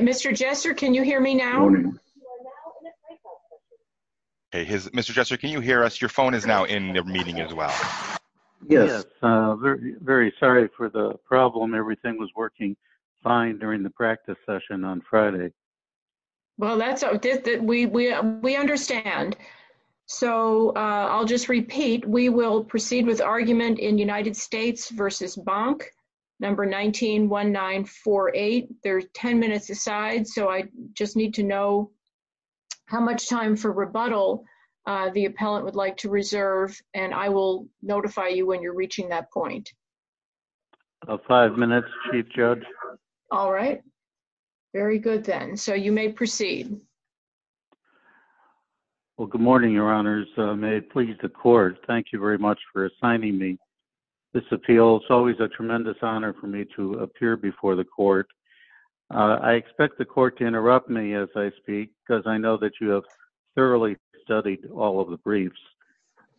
Mr. Jester, can you hear us? Your phone is now in the meeting as well. Yes, very sorry for the problem. Everything was working fine during the practice session on Friday. Well, we understand. So I'll just repeat, we will proceed with argument in United States v. Bonk, number 191948. There's 10 minutes aside, so I just need to know how much time for rebuttal the appellant would like to reserve, and I will notify you when you're reaching that point. Five minutes, Chief Judge. All right, very good then. So you may proceed. Well, good morning, Your Honors. May it please the Court, thank you very much for assigning me this appeal. It's always a tremendous honor for me to appear before the Court. I expect the Court to interrupt me as I speak, because I know that you have thoroughly studied all of the briefs.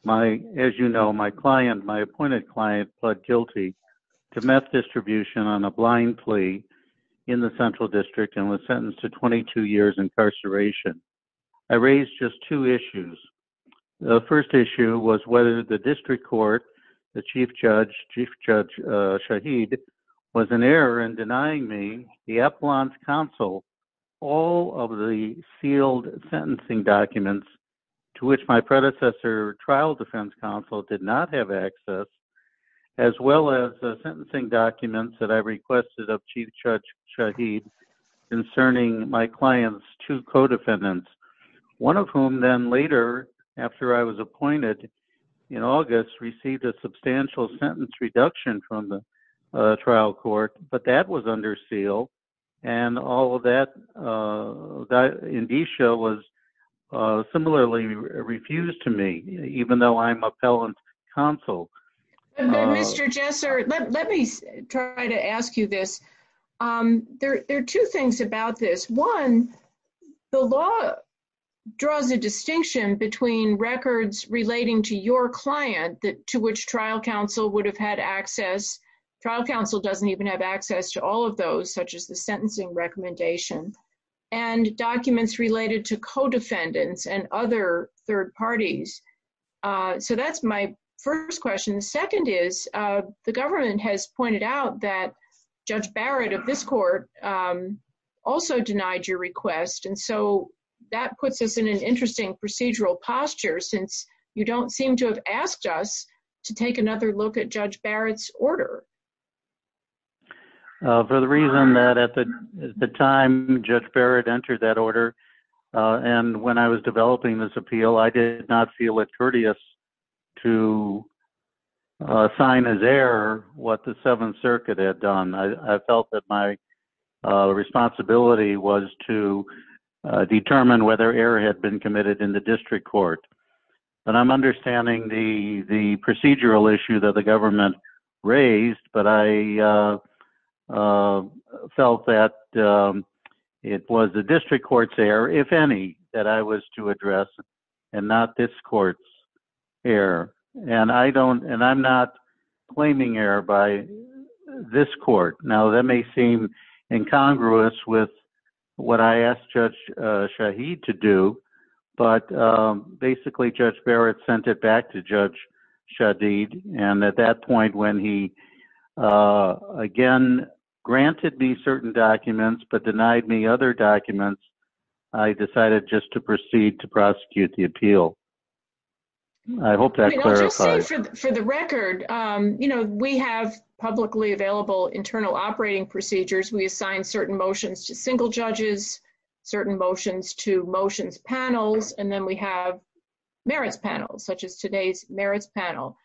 As you know, my client, my appointed client, pled guilty to meth distribution on a blind plea in the Central District and was sentenced to 22 years incarceration. I raised just two issues. The first issue was whether the District Court, the Chief Judge, Chief Judge Shahid, was in error in denying me the appellant's counsel, all of the sealed sentencing documents, to which my predecessor trial defense counsel did not have access, as well as the sentencing documents that I requested of Chief Judge Shahid concerning my client's two co-defendants, one of whom then later, after I was appointed in August, received a substantial sentence reduction from the trial court, but that was under seal. And all of that, Indisha was similarly refused to me, even though I'm appellant's counsel. Mr. Jesser, let me try to ask you this. There are two things about this. One, the law draws a distinction between records relating to your client to which trial counsel would have had access, trial counsel doesn't even have access to all of those, such as the sentencing recommendation, and documents related to co-defendants and other third parties. So that's my first question. Second is, the government has pointed out that Judge Barrett of this court also denied your request, and so that puts us in an interesting procedural posture, since you don't seem to have asked us to take another look at Judge Barrett's order. For the reason that at the time Judge Barrett entered that order, and when I was developing this appeal, I did not feel it courteous to sign as error what the Seventh Circuit had done. I felt that my responsibility was to determine whether error had been committed in the district court. And I'm understanding the procedural issue that the government raised, but I felt that it was the district court's error, if any, that I was to address, and not this court's error. And I'm not claiming error by this court. Now that may seem incongruous with what I asked Judge Shaheed to do, but basically Judge Barrett sent it back to Judge Shaheed, and at that point when he again granted me certain documents but denied me other documents, I decided just to proceed to prosecute the appeal. I hope that clarifies. For the record, you know, we have publicly available internal operating procedures. We assign certain motions to single judges, certain motions to motions panels, and then we have merits panels, such as today's merits panel.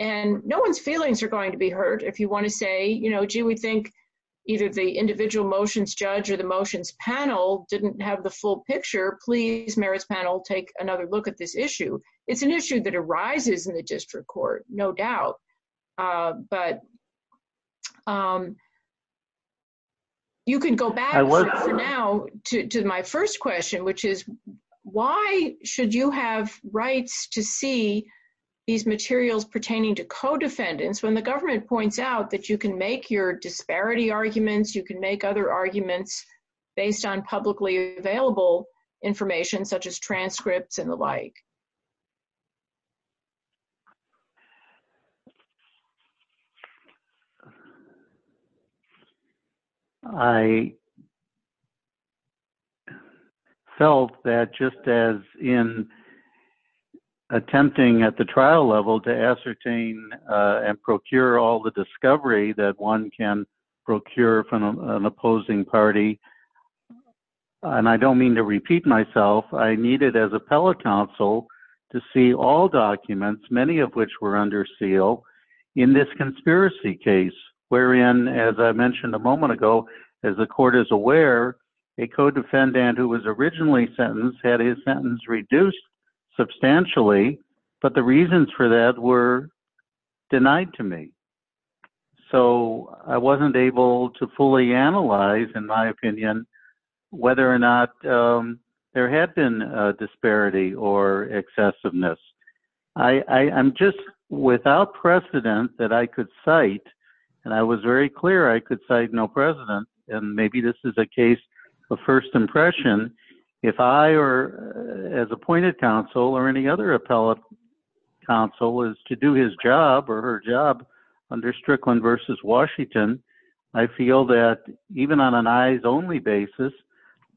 And no one's feelings are going to be hurt if you want to say, you know, gee, we think either the individual motions judge or the motions panel didn't have the full picture. Please, merits panel, take another look at this issue. It's an issue that arises in the district court, no doubt. But you can go back for now to my first question, which is, why should you have rights to see these materials pertaining to co-defendants when the government points out that you can make your disparity arguments, you can make other arguments based on publicly available information, such as transcripts and the like? I felt that just as in attempting at the trial level to ascertain and procure all the discovery that one can procure from an opposing party, and I don't mean to repeat myself, I needed as appellate counsel to see all documents, many of which were under seal, and to see the evidence. In this conspiracy case, wherein, as I mentioned a moment ago, as the court is aware, a co-defendant who was originally sentenced had his sentence reduced substantially, but the reasons for that were denied to me. So I wasn't able to fully analyze, in my opinion, whether or not there had been a disparity or excessiveness. I'm just without precedent that I could cite, and I was very clear I could cite no precedent, and maybe this is a case of first impression, if I, as appointed counsel or any other appellate counsel, was to do his job or her job under Strickland v. Washington, I feel that even on an eyes-only basis,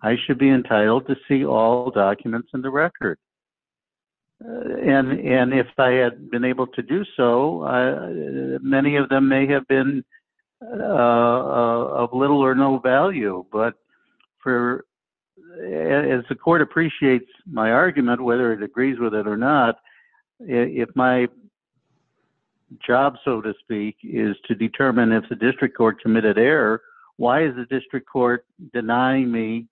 I should be entitled to see all documents in the record. And if I had been able to do so, many of them may have been of little or no value, but as the court appreciates my argument, whether it agrees with it or not, if my job, so to speak, is to determine if the district court committed error, why is the district court denying me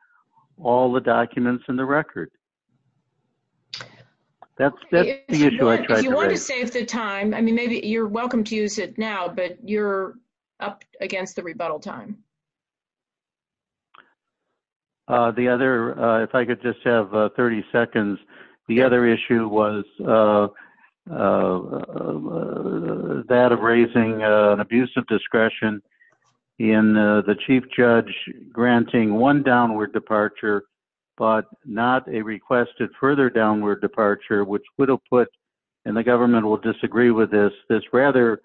all the documents in the record? That's the issue I tried to raise. If you want to save the time, I mean, maybe you're welcome to use it now, but you're up against the rebuttal time. The other, if I could just have 30 seconds, the other issue was that of raising an abuse of discretion in the chief judge granting one downward departure, but not a requested further downward departure, which would have put, and the government will disagree with this, this rather,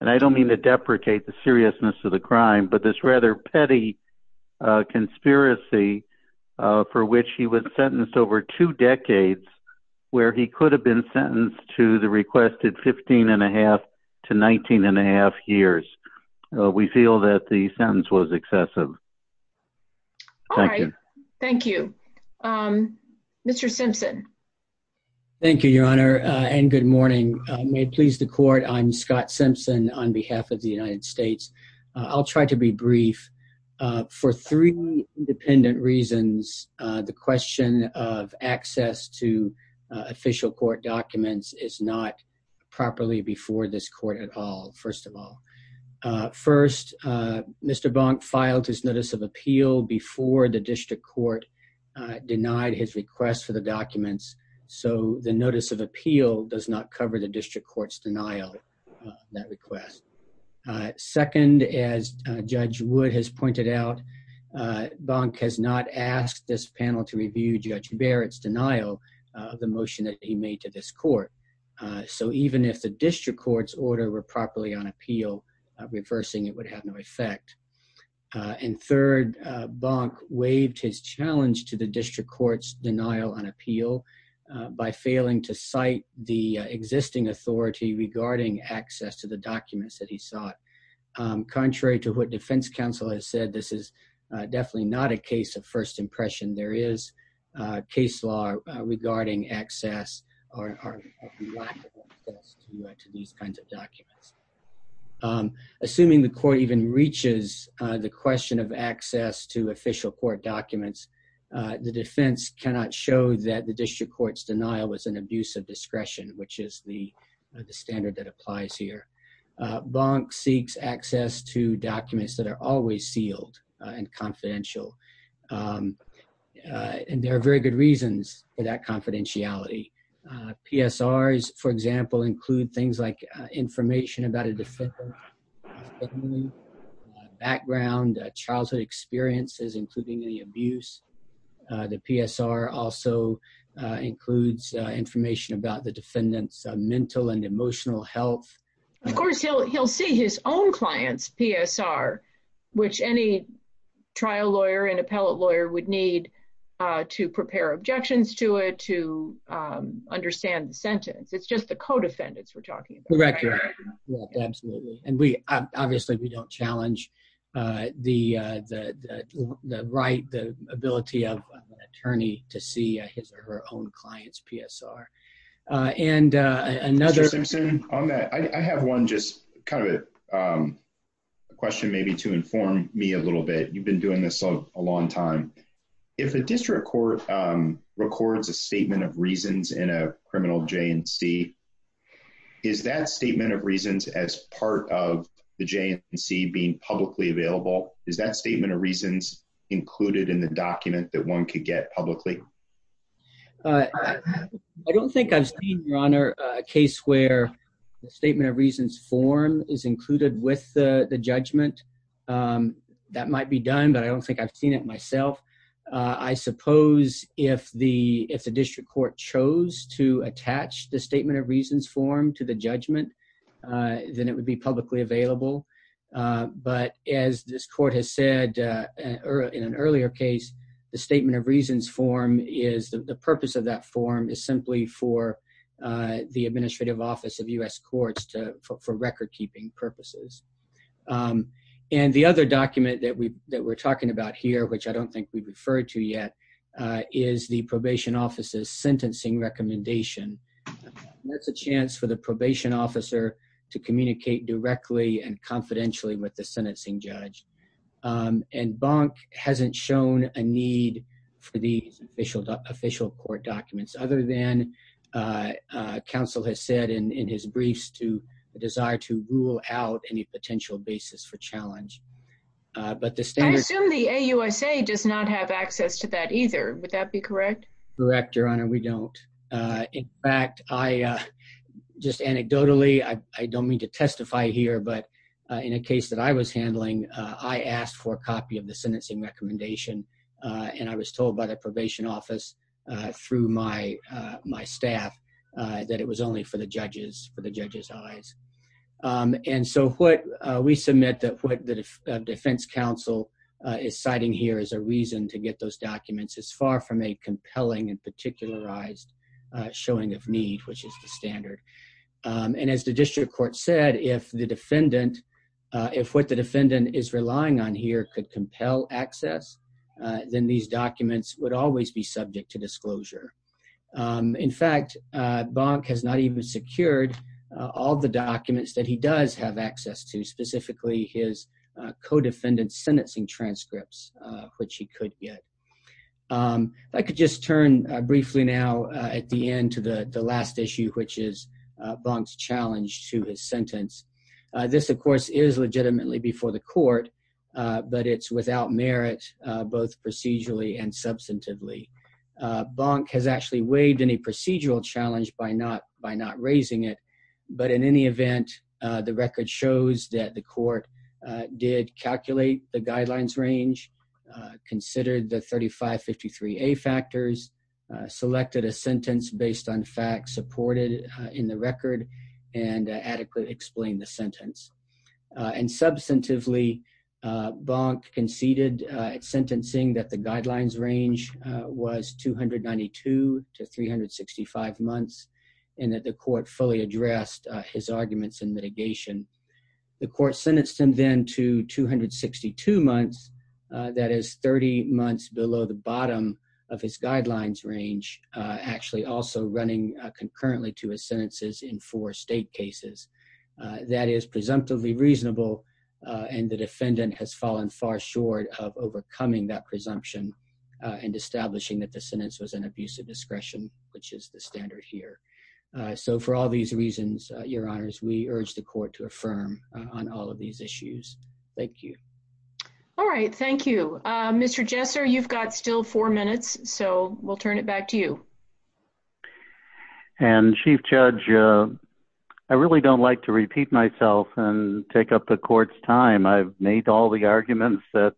and I don't mean to deprecate the seriousness of the crime, but this rather, petty conspiracy for which he was sentenced over two decades, where he could have been sentenced to the requested 15 and a half to 19 and a half years. We feel that the sentence was excessive. All right. Thank you. Mr. Simpson. Thank you, Your Honor, and good morning. May it please the court, I'm Scott Simpson on behalf of the United States. I'll try to be brief. For three independent reasons, the question of access to official court documents is not properly before this court at all, first of all. First, Mr. Bonk filed his notice of appeal before the district court denied his request for the documents, so the notice of appeal does not cover the district court's denial of that request. Second, as Judge Wood has pointed out, Bonk has not asked this panel to review Judge Barrett's denial of the motion that he made to this court. So even if the district court's order were properly on appeal, reversing it would have no effect. And third, Bonk waived his challenge to the district court's denial on appeal by failing to cite the existing authority regarding access to the documents that he sought. Contrary to what defense counsel has said, this is definitely not a case of first impression. There is case law regarding access or lack of access to these kinds of documents. Assuming the court even reaches the question of access to official court documents, the defense cannot show that the district court's denial was an abuse of discretion, which is the standard that applies here. Bonk seeks access to documents that are always sealed and confidential. And there are very good reasons for that confidentiality. PSRs, for example, include things like information about a defendant's family, background, childhood experiences, including any abuse. The PSR also includes information about the defendant's mental and emotional health. Of course, he'll see his own client's PSR, which any trial lawyer and appellate lawyer would need to prepare objections to it, to understand the sentence. It's just the co-defendants we're talking about. Correct. Absolutely. And obviously, we don't challenge the right, the ability of an attorney to see his or her own client's PSR. Mr. Simpson, on that, I have one just kind of a question maybe to inform me a little bit. You've been doing this a long time. If a district court records a statement of reasons in a criminal J&C, is that statement of reasons as part of the J&C being publicly available? Is that statement of reasons included in the document that one could get publicly? I don't think I've seen, Your Honor, a case where the statement of reasons form is included with the judgment. That might be done, but I don't think I've seen it myself. I suppose if the district court chose to attach the statement of reasons form to the judgment, then it would be publicly available. But as this court has said in an earlier case, the purpose of that form is simply for the administrative office of U.S. courts for record-keeping purposes. And the other document that we're talking about here, which I don't think we've referred to yet, is the probation officer's sentencing recommendation. That's a chance for the probation officer to communicate directly and confidentially with the sentencing judge. And Bonk hasn't shown a need for these official court documents, other than counsel has said in his briefs to desire to rule out any potential basis for challenge. I assume the AUSA does not have access to that either. Would that be correct? Correct, Your Honor, we don't. In fact, just anecdotally, I don't mean to testify here, but in a case that I was handling, I asked for a copy of the sentencing recommendation. And I was told by the probation office through my staff that it was only for the judge's eyes. And so we submit that what the defense counsel is citing here as a reason to get those documents is far from a compelling and particularized showing of need, which is the standard. And as the district court said, if what the defendant is relying on here could compel access, then these documents would always be subject to disclosure. In fact, Bonk has not even secured all the documents that he does have access to, specifically his co-defendant's sentencing transcripts, which he could get. I could just turn briefly now at the end to the last issue, which is Bonk's challenge to his sentence. This, of course, is legitimately before the court, but it's without merit, both procedurally and substantively. Bonk has actually waived any procedural challenge by not raising it. But in any event, the record shows that the court did calculate the guidelines range, considered the 3553A factors, selected a sentence based on facts supported in the record, and adequately explained the sentence. And substantively, Bonk conceded at sentencing that the guidelines range was 292 to 365 months and that the court fully addressed his arguments in mitigation. The court sentenced him then to 262 months, that is 30 months below the bottom of his guidelines range, actually also running concurrently to his sentences in four state cases. That is presumptively reasonable, and the defendant has fallen far short of overcoming that presumption and establishing that the sentence was an abuse of discretion, which is the standard here. So for all these reasons, Your Honors, we urge the court to affirm on all of these issues. Thank you. All right, thank you. Mr. Jesser, you've got still four minutes, so we'll turn it back to you. And Chief Judge, I really don't like to repeat myself and take up the court's time. I've made all the arguments that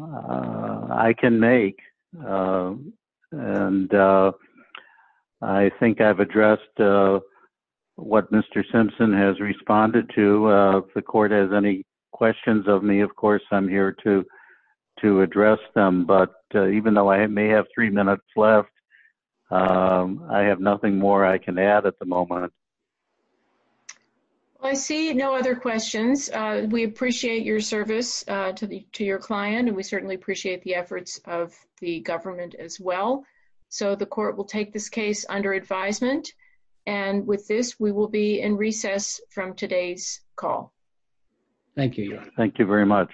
I can make, and I think I've addressed what Mr. Simpson has responded to. If the court has any questions of me, of course, I'm here to address them. But even though I may have three minutes left, I have nothing more I can add at the moment. I see no other questions. We appreciate your service to your client, and we certainly appreciate the efforts of the government as well. So the court will take this case under advisement. And with this, we will be in recess from today's call. Thank you. Thank you very much.